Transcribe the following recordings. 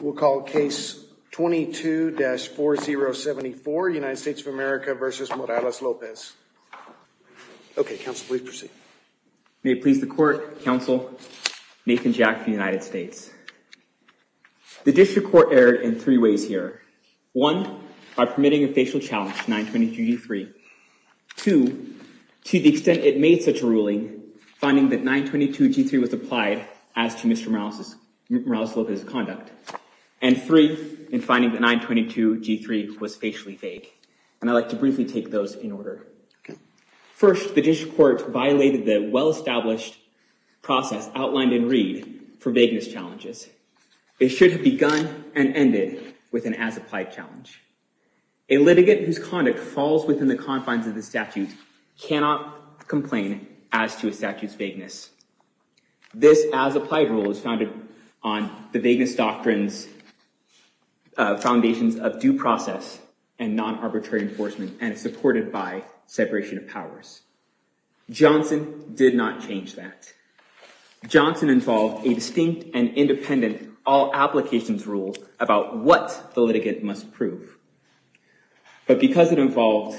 We'll call case 22-4074, United States of America v. Morales-Lopez. Okay, counsel, please proceed. May it please the court, counsel, Nathan Jack for the United States. The district court erred in three ways here. One, by permitting a facial challenge to 922G3. Two, to the extent it made such a ruling, finding that 922G3 was applied as to Mr. Morales-Lopez's conduct. And three, in finding that 922G3 was facially vague. And I'd like to briefly take those in order. First, the district court violated the well-established process outlined in Reed for vagueness challenges. It should have begun and ended with an as-applied challenge. A litigant whose conduct falls within the confines of the statute cannot complain as to a statute's vagueness. This as-applied rule is founded on the vagueness doctrines, foundations of due process and non-arbitrary enforcement, and is supported by separation of powers. Johnson did not change that. Johnson involved a distinct and independent all-applications rule about what the litigant must prove. But because it involved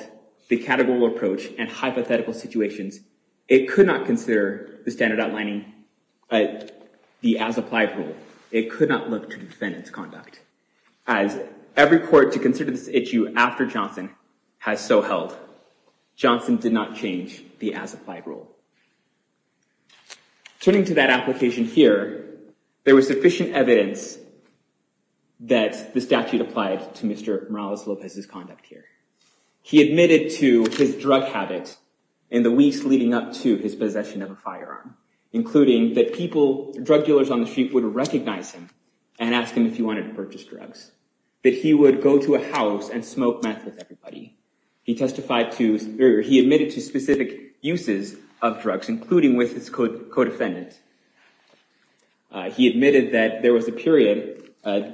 the categorical approach and hypothetical situations, it could not consider the standard outlining the as-applied rule. It could not look to defend its conduct. As every court to consider this issue after Johnson has so held. Johnson did not change the as-applied rule. Turning to that application here, there was sufficient evidence that the statute applied to Mr. Morales-Lopez's conduct here. He admitted to his drug habit in the weeks leading up to his possession of a firearm, including that drug dealers on the street would recognize him and ask him if he wanted to purchase drugs, that he would go to a house and smoke meth with everybody. He admitted to specific uses of drugs, including with his co-defendant. He admitted that there was a period,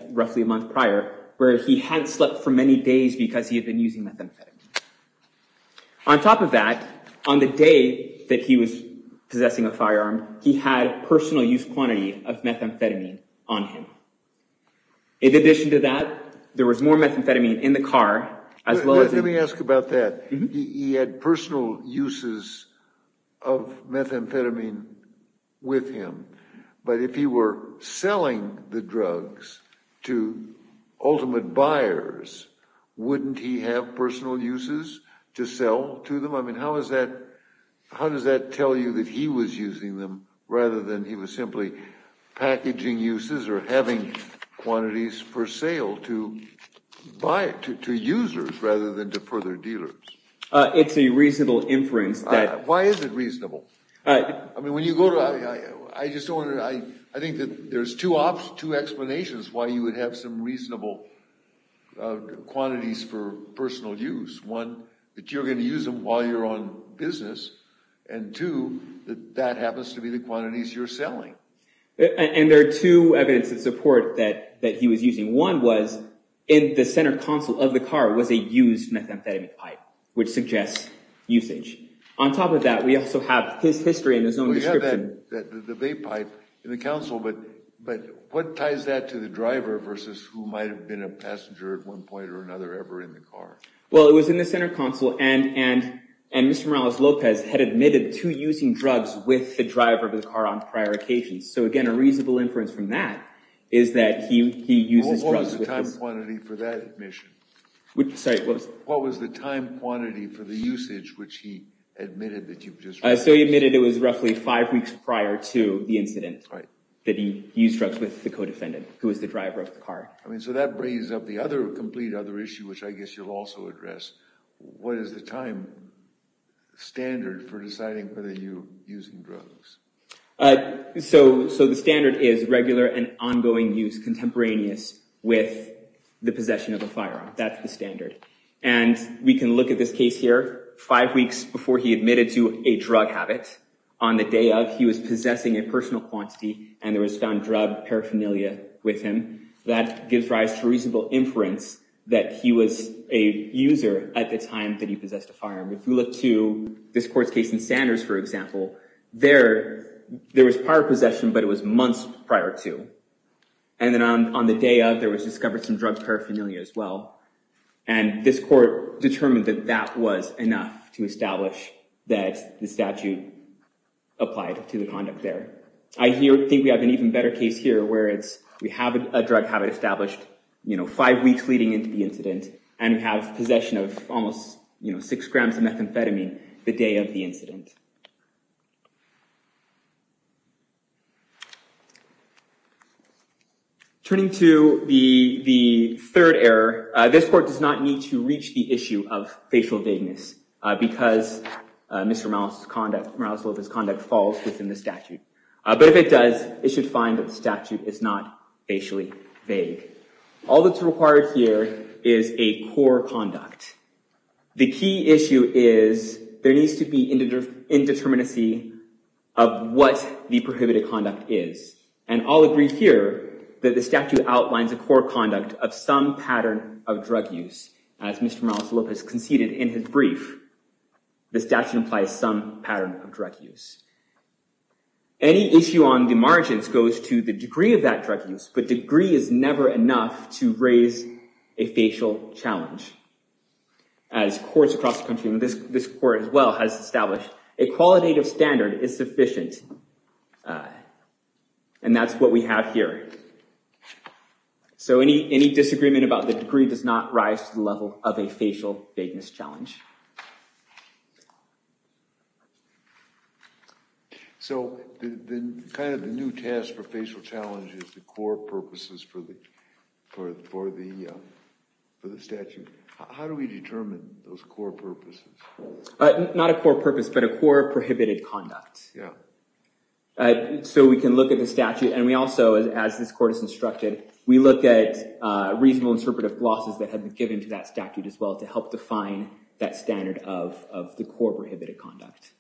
roughly a month prior, where he hadn't slept for many days because he had been using methamphetamine. On top of that, on the day that he was possessing a firearm, he had a personal use quantity of methamphetamine on him. In addition to that, there was more methamphetamine in the car. Let me ask about that. He had personal uses of methamphetamine with him. But if he were selling the drugs to ultimate buyers, wouldn't he have personal uses to sell to them? How does that tell you that he was using them rather than he was simply packaging uses or having quantities for sale to users rather than to further dealers? It's a reasonable inference. Why is it reasonable? I think that there's two explanations why you would have some reasonable quantities for personal use. One, that you're going to use them while you're on business. And two, that that happens to be the quantities you're selling. And there are two evidence of support that he was using. One was in the center console of the car was a used methamphetamine pipe, which suggests usage. On top of that, we also have his history in his own description. We have the vape pipe in the console, but what ties that to the driver versus who might have been a passenger at one point or another ever in the car? Well, it was in the center console. And Mr. Morales-Lopez had admitted to using drugs with the driver of the car on prior occasions. So again, a reasonable inference from that is that he uses drugs with them. What was the time quantity for that admission? Sorry, what was it? What was the time quantity for the usage which he admitted that you just raised? So he admitted it was roughly five weeks prior to the incident that he used drugs with the co-defendant, who was the driver of the car. I mean, so that brings up the other complete other issue, which I guess you'll also address. What is the time standard for deciding whether you're using drugs? So the standard is regular and ongoing use contemporaneous with the possession of a firearm. That's the standard. And we can look at this case here. Five weeks before he admitted to a drug habit, on the day of, he was possessing a personal quantity, and there was found drug paraphernalia with him. That gives rise to reasonable inference that he was a user at the time that he possessed a firearm. If you look to this court's case in Sanders, for example, there was prior possession, but it was months prior to. And then on the day of, there was discovered some drug paraphernalia as well. And this court determined that that was enough to establish that the statute applied to the conduct there. I think we have an even better case here, where we have a drug habit established five weeks leading into the incident, and we have possession of almost six grams of methamphetamine the day of the incident. Turning to the third error, this court does not need to reach the issue of facial vagueness, because Mr. Morales' conduct falls within the statute. But if it does, it should find that the statute is not facially vague. All that's required here is a core conduct. The key issue is there needs to be indeterminacy of what the prohibited conduct is. And I'll agree here that the statute outlines a core conduct of some pattern of drug use. As Mr. Morales Lopez conceded in his brief, the statute implies some pattern of drug use. Any issue on the margins goes to the degree of that drug use, but degree is never enough to raise a facial challenge. As courts across the country, and this court as well, has established a qualitative standard is sufficient. And that's what we have here. So any disagreement about the degree does not rise to the level of a facial vagueness challenge. So kind of the new task for facial challenge is the core purposes for the statute. How do we determine those core purposes? Not a core purpose, but a core prohibited conduct. So we can look at the statute, and we also, as this court has instructed, we look at reasonable interpretive glosses that have been given to that statute as well to help define that standard of the core prohibited conduct.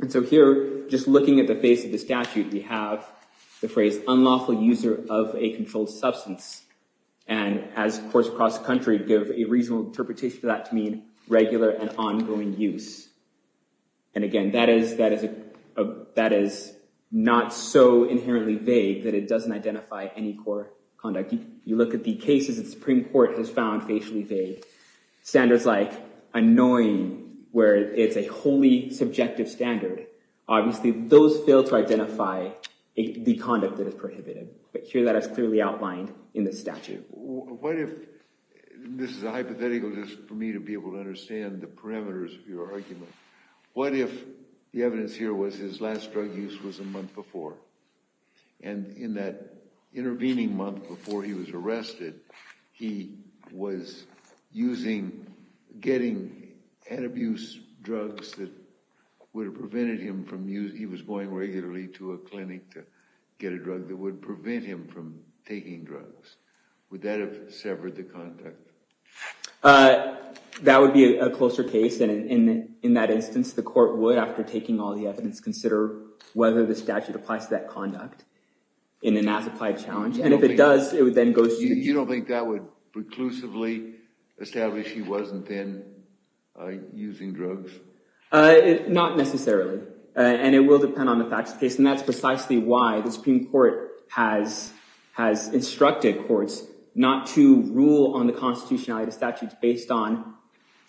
And so here, just looking at the face of the statute, we have the phrase unlawful user of a controlled substance. And as courts across the country give a reasonable interpretation for that to mean regular and ongoing use. And again, that is not so inherently vague that it doesn't identify any core conduct. You look at the cases the Supreme Court has found facially vague. Standards like annoying, where it's a wholly subjective standard, obviously those fail to identify the conduct that is prohibited. But here that is clearly outlined in the statute. What if, this is a hypothetical just for me to be able to understand the parameters of your argument, what if the evidence here was his last drug use was a month before? And in that intervening month before he was arrested, he was using, getting head abuse drugs that would have prevented him from using, he was going regularly to a clinic to get a drug that would prevent him from taking drugs. Would that have severed the conduct? That would be a closer case, and in that instance the court would, after taking all the evidence, consider whether the statute applies to that conduct in an as-applied challenge. And if it does, it would then go to... You don't think that would preclusively establish he wasn't then using drugs? Not necessarily. And it will depend on the facts of the case. And that's precisely why the Supreme Court has instructed courts not to rule on the constitutionality of the statute based on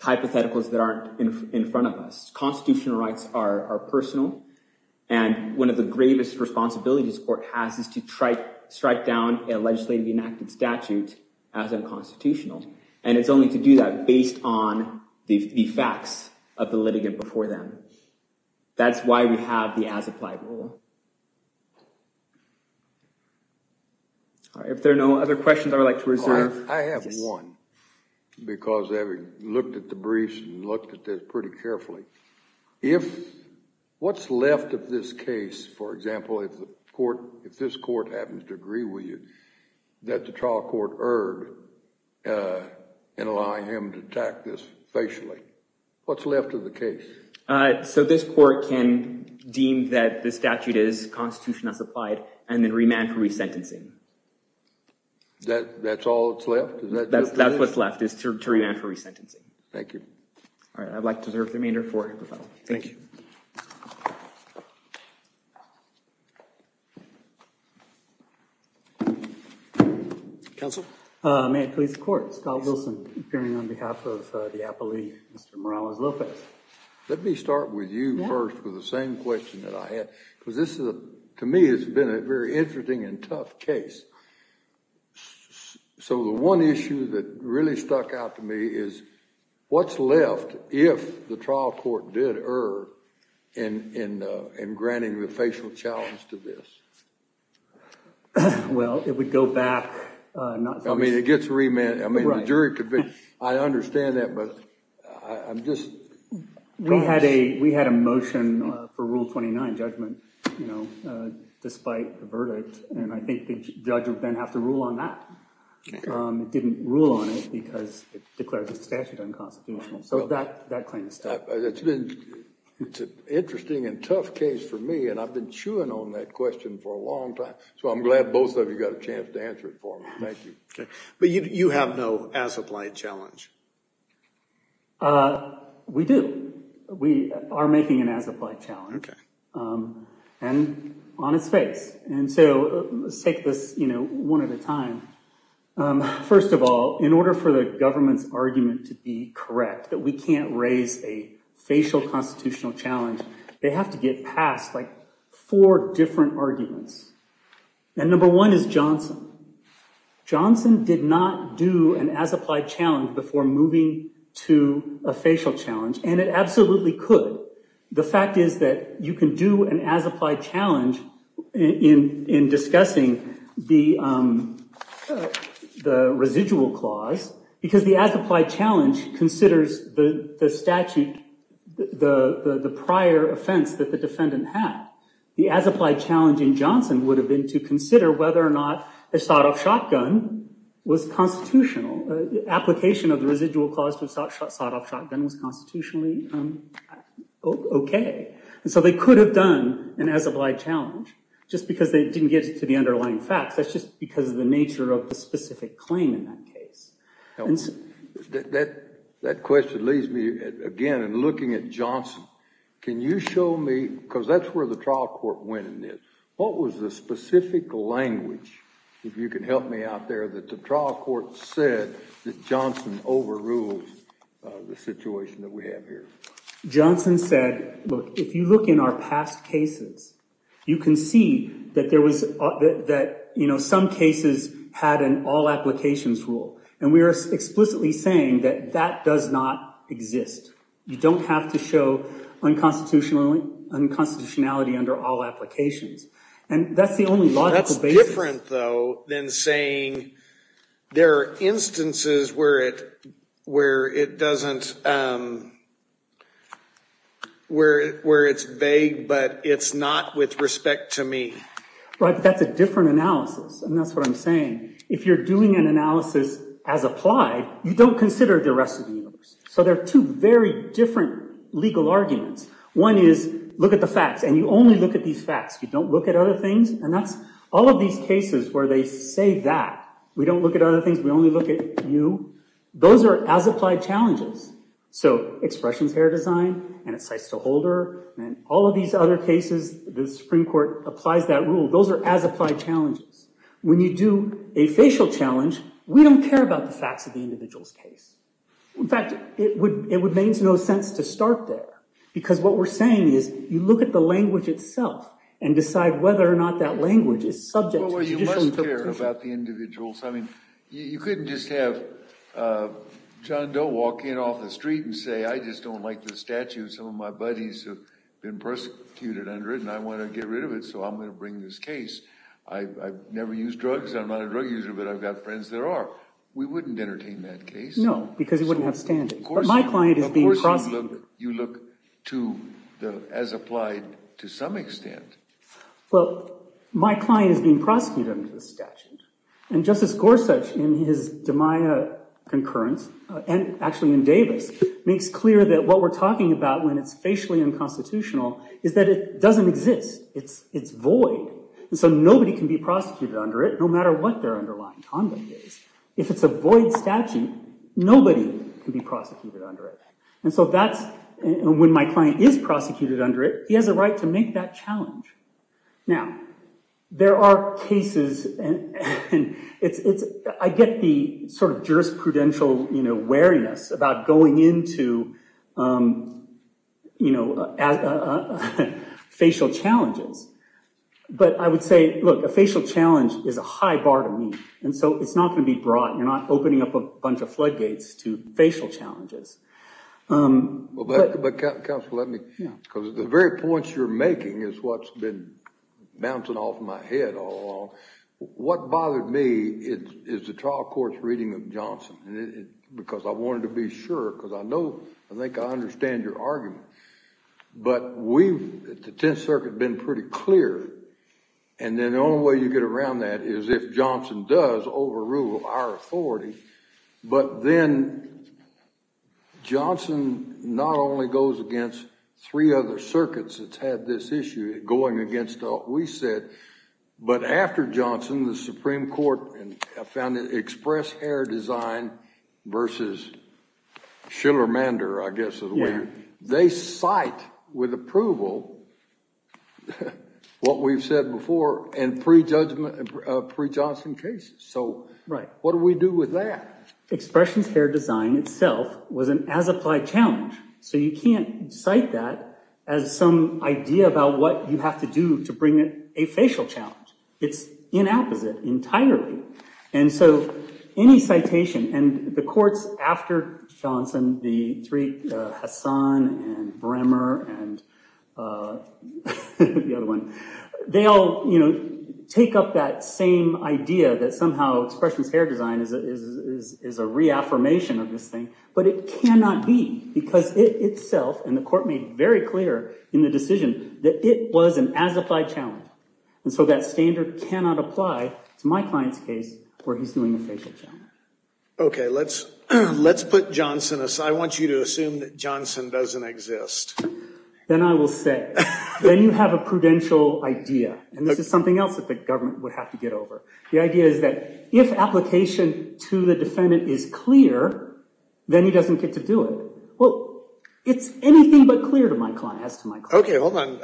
hypotheticals that aren't in front of us. Constitutional rights are personal, and one of the gravest responsibilities the court has is to strike down a legislatively enacted statute as unconstitutional. And it's only to do that based on the facts of the litigant before them. That's why we have the as-applied rule. If there are no other questions I would like to reserve... Because I've looked at the briefs and looked at this pretty carefully. What's left of this case, for example, if this court happens to agree with you, that the trial court erred in allowing him to attack this facially? What's left of the case? So this court can deem that the statute is constitutionally as-applied and then remand for resentencing. That's all that's left? That's what's left, is to remand for resentencing. Thank you. All right, I'd like to reserve the remainder for hypotheticals. Thank you. Counsel? May it please the Court? Scott Wilson, appearing on behalf of the appellee, Mr. Morales Lopez. Let me start with you first with the same question that I had. Because this, to me, has been a very interesting and tough case. So the one issue that really stuck out to me is what's left if the trial court did err in granting the facial challenge to this? Well, it would go back... I mean, it gets remanded. I understand that, but I'm just... We had a motion for Rule 29 judgment, you know, despite the verdict. And I think the judge would then have to rule on that. It didn't rule on it because it declared the statute unconstitutional. So that claim is still... It's an interesting and tough case for me, and I've been chewing on that question for a long time. So I'm glad both of you got a chance to answer it for me. Thank you. But you have no as-applied challenge? We do. We are making an as-applied challenge. Okay. And on its face. And so let's take this, you know, one at a time. First of all, in order for the government's argument to be correct, that we can't raise a facial constitutional challenge, they have to get past, like, four different arguments. And number one is Johnson. Johnson did not do an as-applied challenge before moving to a facial challenge, and it absolutely could. The fact is that you can do an as-applied challenge in discussing the residual clause because the as-applied challenge considers the statute, the prior offense that the defendant had. The as-applied challenge in Johnson would have been to consider whether or not a sawed-off shotgun was constitutional. The application of the residual clause to a sawed-off shotgun was constitutionally okay. And so they could have done an as-applied challenge just because they didn't get to the underlying facts. That's just because of the nature of the specific claim in that case. That question leads me, again, in looking at Johnson. Can you show me, because that's where the trial court went in this, what was the specific language, if you can help me out there, that the trial court said that Johnson overruled the situation that we have here? Johnson said, look, if you look in our past cases, you can see that there was, that, you know, some cases had an all-applications rule. And we are explicitly saying that that does not exist. You don't have to show unconstitutionality under all applications. And that's the only logical basis. That's different, though, than saying there are instances where it doesn't, where it's vague, but it's not with respect to me. Right, but that's a different analysis, and that's what I'm saying. If you're doing an analysis as applied, you don't consider the rest of the universe. So there are two very different legal arguments. One is, look at the facts, and you only look at these facts. You don't look at other things. And that's all of these cases where they say that. We don't look at other things. We only look at you. Those are as-applied challenges. So expressions, hair design, and it's nice to hold her, and all of these other cases, the Supreme Court applies that rule. Those are as-applied challenges. When you do a facial challenge, we don't care about the facts of the individual's case. In fact, it would make no sense to start there, because what we're saying is you look at the language itself and decide whether or not that language is subject to judicial interpretation. Well, you must care about the individuals. I mean, you couldn't just have John Doe walk in off the street and say, I just don't like the statue. Some of my buddies have been persecuted under it, and I want to get rid of it, so I'm going to bring this case. I've never used drugs. I'm not a drug user, but I've got friends that are. We wouldn't entertain that case. No, because you wouldn't have standing. But my client is being prosecuted. Of course you look as-applied to some extent. Well, my client is being prosecuted under the statute, and Justice Gorsuch in his DiMaia concurrence, and actually in Davis, makes clear that what we're talking about when it's facially unconstitutional is that it doesn't exist. It's void, and so nobody can be prosecuted under it, because if it's a void statute, nobody can be prosecuted under it. And so that's when my client is prosecuted under it, he has a right to make that challenge. Now, there are cases, and I get the sort of jurisprudential wariness about going into facial challenges, but I would say, look, a facial challenge is a high bar to meet, and so it's not going to be broad. You're not opening up a bunch of floodgates to facial challenges. But counsel, let me, because the very points you're making is what's been bouncing off my head all along. What bothered me is the trial court's reading of Johnson, because I wanted to be sure, because I know, I think I understand your argument. But we've, at the Tenth Circuit, been pretty clear, and then the only way you get around that is if Johnson does overrule our authority, but then Johnson not only goes against three other circuits that's had this issue, going against what we said, but after Johnson, the Supreme Court found that express hair design versus Schillermander, they cite with approval what we've said before in pre-Johnson cases. So what do we do with that? Expressions hair design itself was an as-applied challenge, so you can't cite that as some idea about what you have to do to bring a facial challenge. It's inapposite entirely. And so any citation, and the courts after Johnson, the three, Hassan and Bremer and the other one, they all take up that same idea that somehow expressions hair design is a reaffirmation of this thing, but it cannot be, because it itself, and the court made very clear in the decision, that it was an as-applied challenge. And so that standard cannot apply to my client's case where he's doing a facial challenge. Okay, let's put Johnson aside. I want you to assume that Johnson doesn't exist. Then I will say, then you have a prudential idea, and this is something else that the government would have to get over. The idea is that if application to the defendant is clear, then he doesn't get to do it. Well, it's anything but clear to my client, as to my client. Okay, hold on.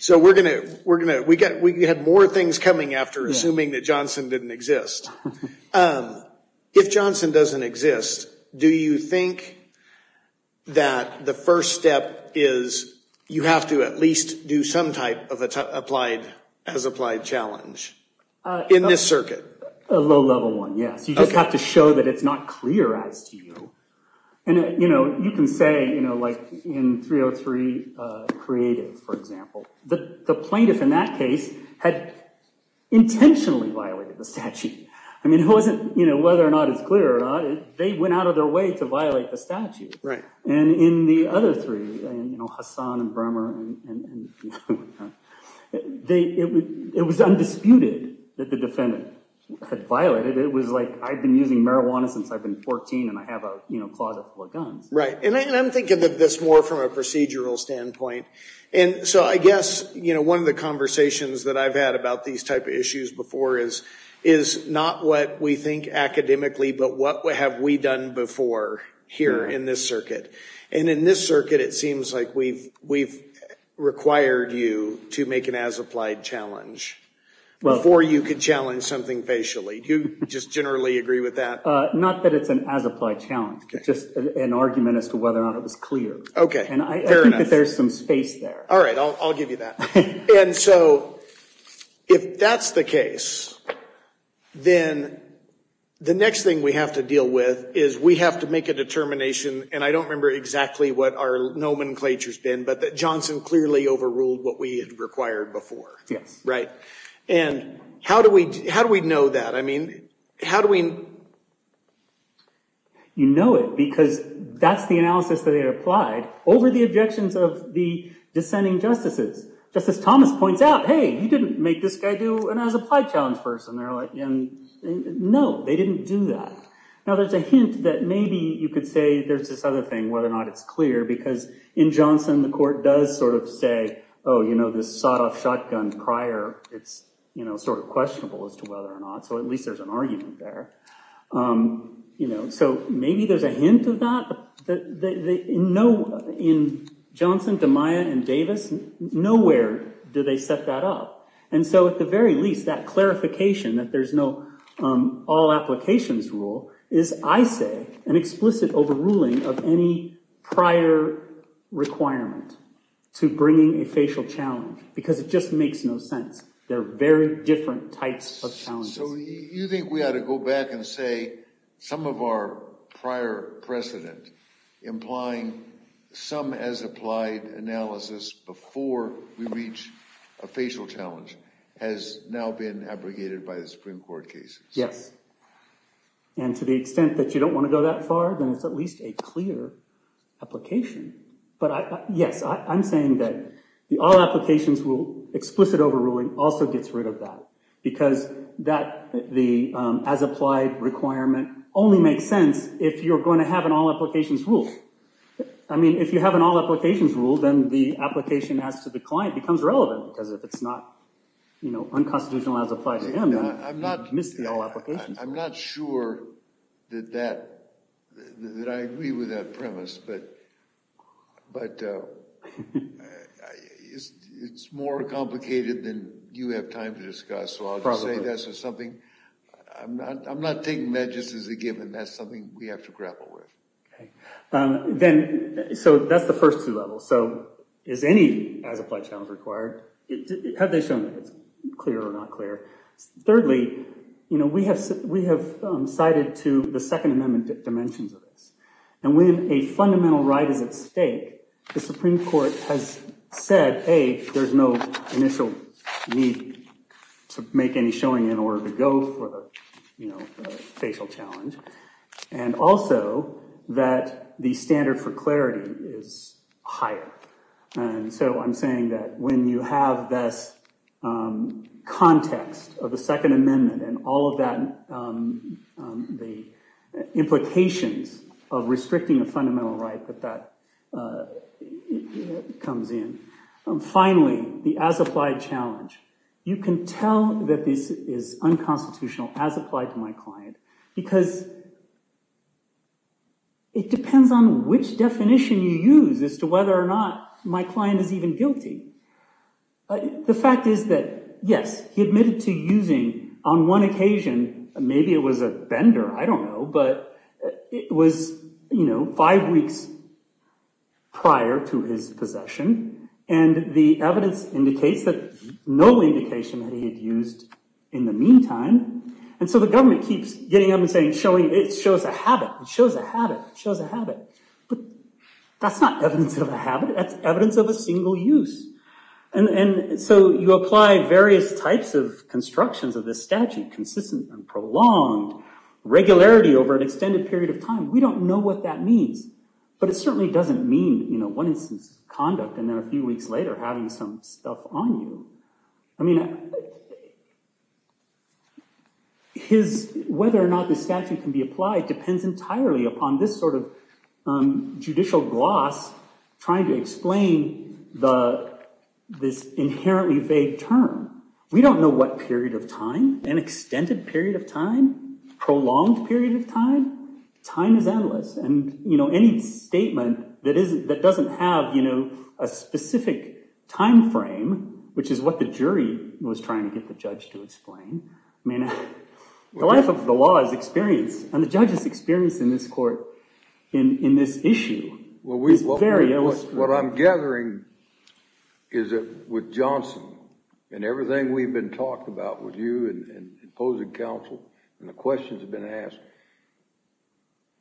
So we're going to, we had more things coming after assuming that Johnson didn't exist. If Johnson doesn't exist, do you think that the first step is you have to at least do some type of as-applied challenge in this circuit? A low-level one, yes. You just have to show that it's not clear as to you. And, you know, you can say, you know, like in 303 Creative, for example, the plaintiff in that case had intentionally violated the statute. I mean, it wasn't, you know, whether or not it's clear or not. They went out of their way to violate the statute. Right. And in the other three, you know, Hassan and Bremer, it was undisputed that the defendant had violated. It was like, I've been using marijuana since I've been 14, and I have a, you know, closet full of guns. Right, and I'm thinking of this more from a procedural standpoint. And so I guess, you know, one of the conversations that I've had about these type of issues before is not what we think academically, but what have we done before here in this circuit? And in this circuit, it seems like we've required you to make an as-applied challenge before you could challenge something facially. Do you just generally agree with that? Not that it's an as-applied challenge. It's just an argument as to whether or not it was clear. Okay, fair enough. And I think that there's some space there. All right, I'll give you that. And so if that's the case, then the next thing we have to deal with is we have to make a determination, and I don't remember exactly what our nomenclature's been, but that Johnson clearly overruled what we had required before. Yes. Right. And how do we know that? I mean, how do we... You know it because that's the analysis that they had applied over the objections of the dissenting justices. Justice Thomas points out, hey, you didn't make this guy do an as-applied challenge first. And they're like, no, they didn't do that. Now, there's a hint that maybe you could say there's this other thing, whether or not it's clear, because in Johnson, the court does sort of say, oh, you know, this sawed-off shotgun prior, it's sort of questionable as to whether or not, so at least there's an argument there. So maybe there's a hint of that. In Johnson, DeMaia, and Davis, nowhere do they set that up. And so at the very least, that clarification that there's no all-applications rule is, I say, an explicit overruling of any prior requirement to bringing a facial challenge because it just makes no sense. There are very different types of challenges. So you think we ought to go back and say some of our prior precedent implying some as-applied analysis before we reach a facial challenge has now been abrogated by the Supreme Court case? Yes. And to the extent that you don't want to go that far, then it's at least a clear application. But, yes, I'm saying that the all-applications rule, explicit overruling also gets rid of that because the as-applied requirement only makes sense if you're going to have an all-applications rule. I mean, if you have an all-applications rule, then the application as to the client becomes relevant because if it's not unconstitutional as-applied to him, then you've missed the all-applications rule. I'm not sure that I agree with that premise, but it's more complicated than you have time to discuss. So I'll just say that's just something – I'm not taking that just as a given. That's something we have to grapple with. So that's the first two levels. So is any as-applied challenge required? Have they shown that it's clear or not clear? Thirdly, we have cited to the Second Amendment dimensions of this. And when a fundamental right is at stake, the Supreme Court has said, A, there's no initial need to make any showing in order to go for the facial challenge. And also that the standard for clarity is higher. And so I'm saying that when you have this context of the Second Amendment and all of the implications of restricting a fundamental right, that that comes in. Finally, the as-applied challenge. You can tell that this is unconstitutional as applied to my client because it depends on which definition you use as to whether or not my client is even guilty. The fact is that, yes, he admitted to using on one occasion – maybe it was a bender, I don't know – but it was, you know, five weeks prior to his possession. And the evidence indicates that no indication that he had used in the meantime. And so the government keeps getting up and saying, It shows a habit. It shows a habit. It shows a habit. But that's not evidence of a habit. That's evidence of a single use. And so you apply various types of constructions of this statute – consistent and prolonged, regularity over an extended period of time. We don't know what that means. But it certainly doesn't mean, you know, one instance conduct and then a few weeks later having some stuff on you. I mean, whether or not the statute can be applied depends entirely upon this sort of judicial gloss trying to explain this inherently vague term. We don't know what period of time. An extended period of time? Prolonged period of time? Time is endless. And, you know, any statement that doesn't have, you know, a specific time frame, which is what the jury was trying to get the judge to explain. I mean, the life of the law is experience. And the judge's experience in this court, in this issue, is very illustrative. What I'm gathering is that with Johnson and everything we've been talking about with you and imposing counsel and the questions that have been asked,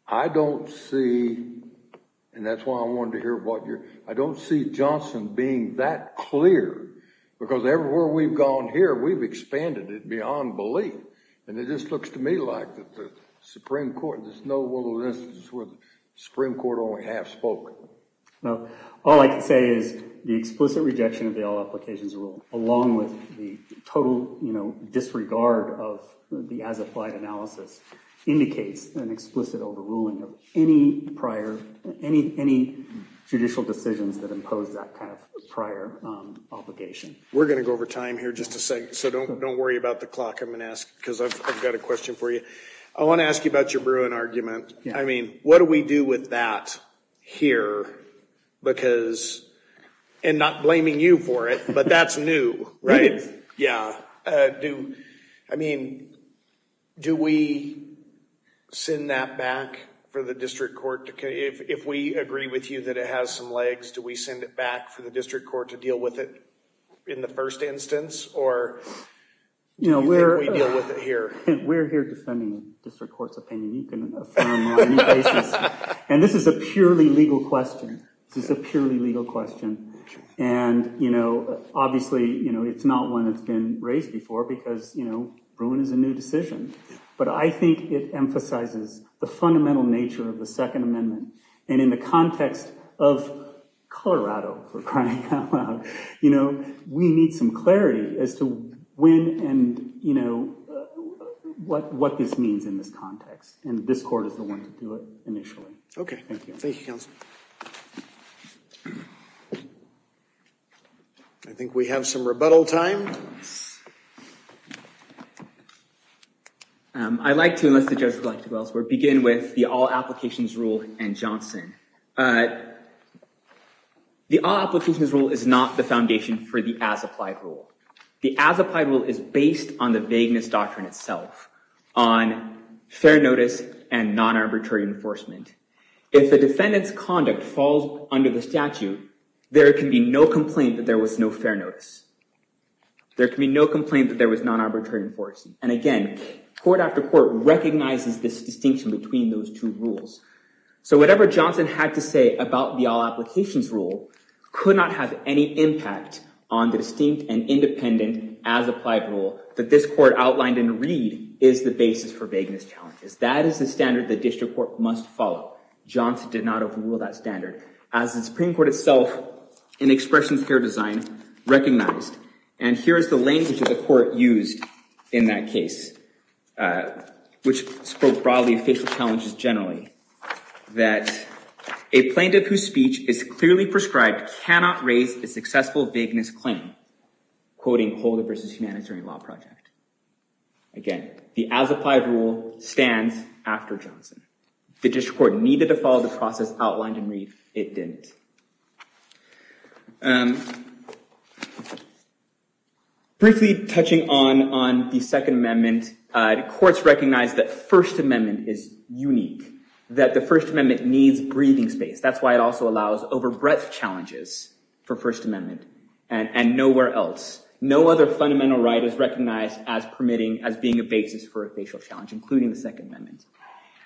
I don't see – and that's why I wanted to hear what you're – I don't see Johnson being that clear because everywhere we've gone here, we've expanded it beyond belief. And it just looks to me like that the Supreme Court – there's no other instance where the Supreme Court only half spoke. Well, all I can say is the explicit rejection of the all-applications rule, along with the total disregard of the as-applied analysis, indicates an explicit overruling of any prior – any judicial decisions that impose that kind of prior obligation. We're going to go over time here in just a second, so don't worry about the clock. I'm going to ask – because I've got a question for you. I want to ask you about your Bruin argument. I mean, what do we do with that here because – and not blaming you for it, but that's new, right? Yeah. I mean, do we send that back for the district court to – if we agree with you that it has some legs, do we send it back for the district court to deal with it in the first instance, or do you think we deal with it here? We're here defending the district court's opinion. You can affirm on any basis. And this is a purely legal question. This is a purely legal question. And, you know, obviously, you know, it's not one that's been raised before because, you know, Bruin is a new decision. But I think it emphasizes the fundamental nature of the Second Amendment. And in the context of Colorado, for crying out loud, you know, we need some clarity as to when and, you know, what this means in this context. And this court is the one to do it initially. Okay. Thank you, counsel. I think we have some rebuttal time. I'd like to, unless the judge would like to go elsewhere, begin with the all-applications rule and Johnson. The all-applications rule is not the foundation for the as-applied rule. The as-applied rule is based on the vagueness doctrine itself, on fair notice and non-arbitrary enforcement. If the defendant's conduct falls under the statute, there can be no complaint that there was no fair notice. There can be no complaint that there was non-arbitrary enforcement. And, again, court after court recognizes this distinction between those two rules. So whatever Johnson had to say about the all-applications rule could not have any impact on the distinct and independent as-applied rule that this court outlined in the read is the basis for vagueness challenges. That is the standard the district court must follow. Johnson did not overrule that standard. As the Supreme Court itself, in expressions of fair design, recognized, and here is the language that the court used in that case, which spoke broadly of facial challenges generally, that a plaintiff whose speech is clearly prescribed cannot raise a successful vagueness claim, quoting Holder v. Humanitarian Law Project. Again, the as-applied rule stands after Johnson. The district court needed to follow the process outlined in Reef. It didn't. Briefly touching on the Second Amendment, courts recognize that First Amendment is unique, that the First Amendment needs breathing space. That's why it also allows over-breath challenges for First Amendment and nowhere else. No other fundamental right is recognized as permitting, as being a basis for a facial challenge, including the Second Amendment.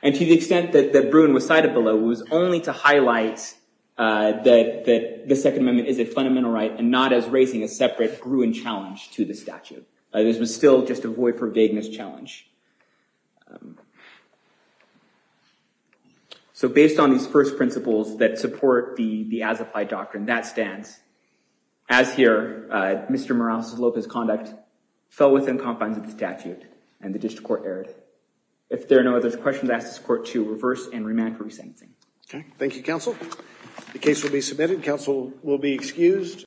And to the extent that Bruin was cited below, it was only to highlight that the Second Amendment is a fundamental right and not as raising a separate Bruin challenge to the statute. This was still just a void for vagueness challenge. So based on these first principles that support the as-applied doctrine, that stands. As here, Mr. Morales-Lopez's conduct fell within confines of the statute and the district court erred. If there are no other questions, I ask this court to reverse and remand for re-sanctioning. Thank you, counsel. The case will be submitted. Counsel will be excused.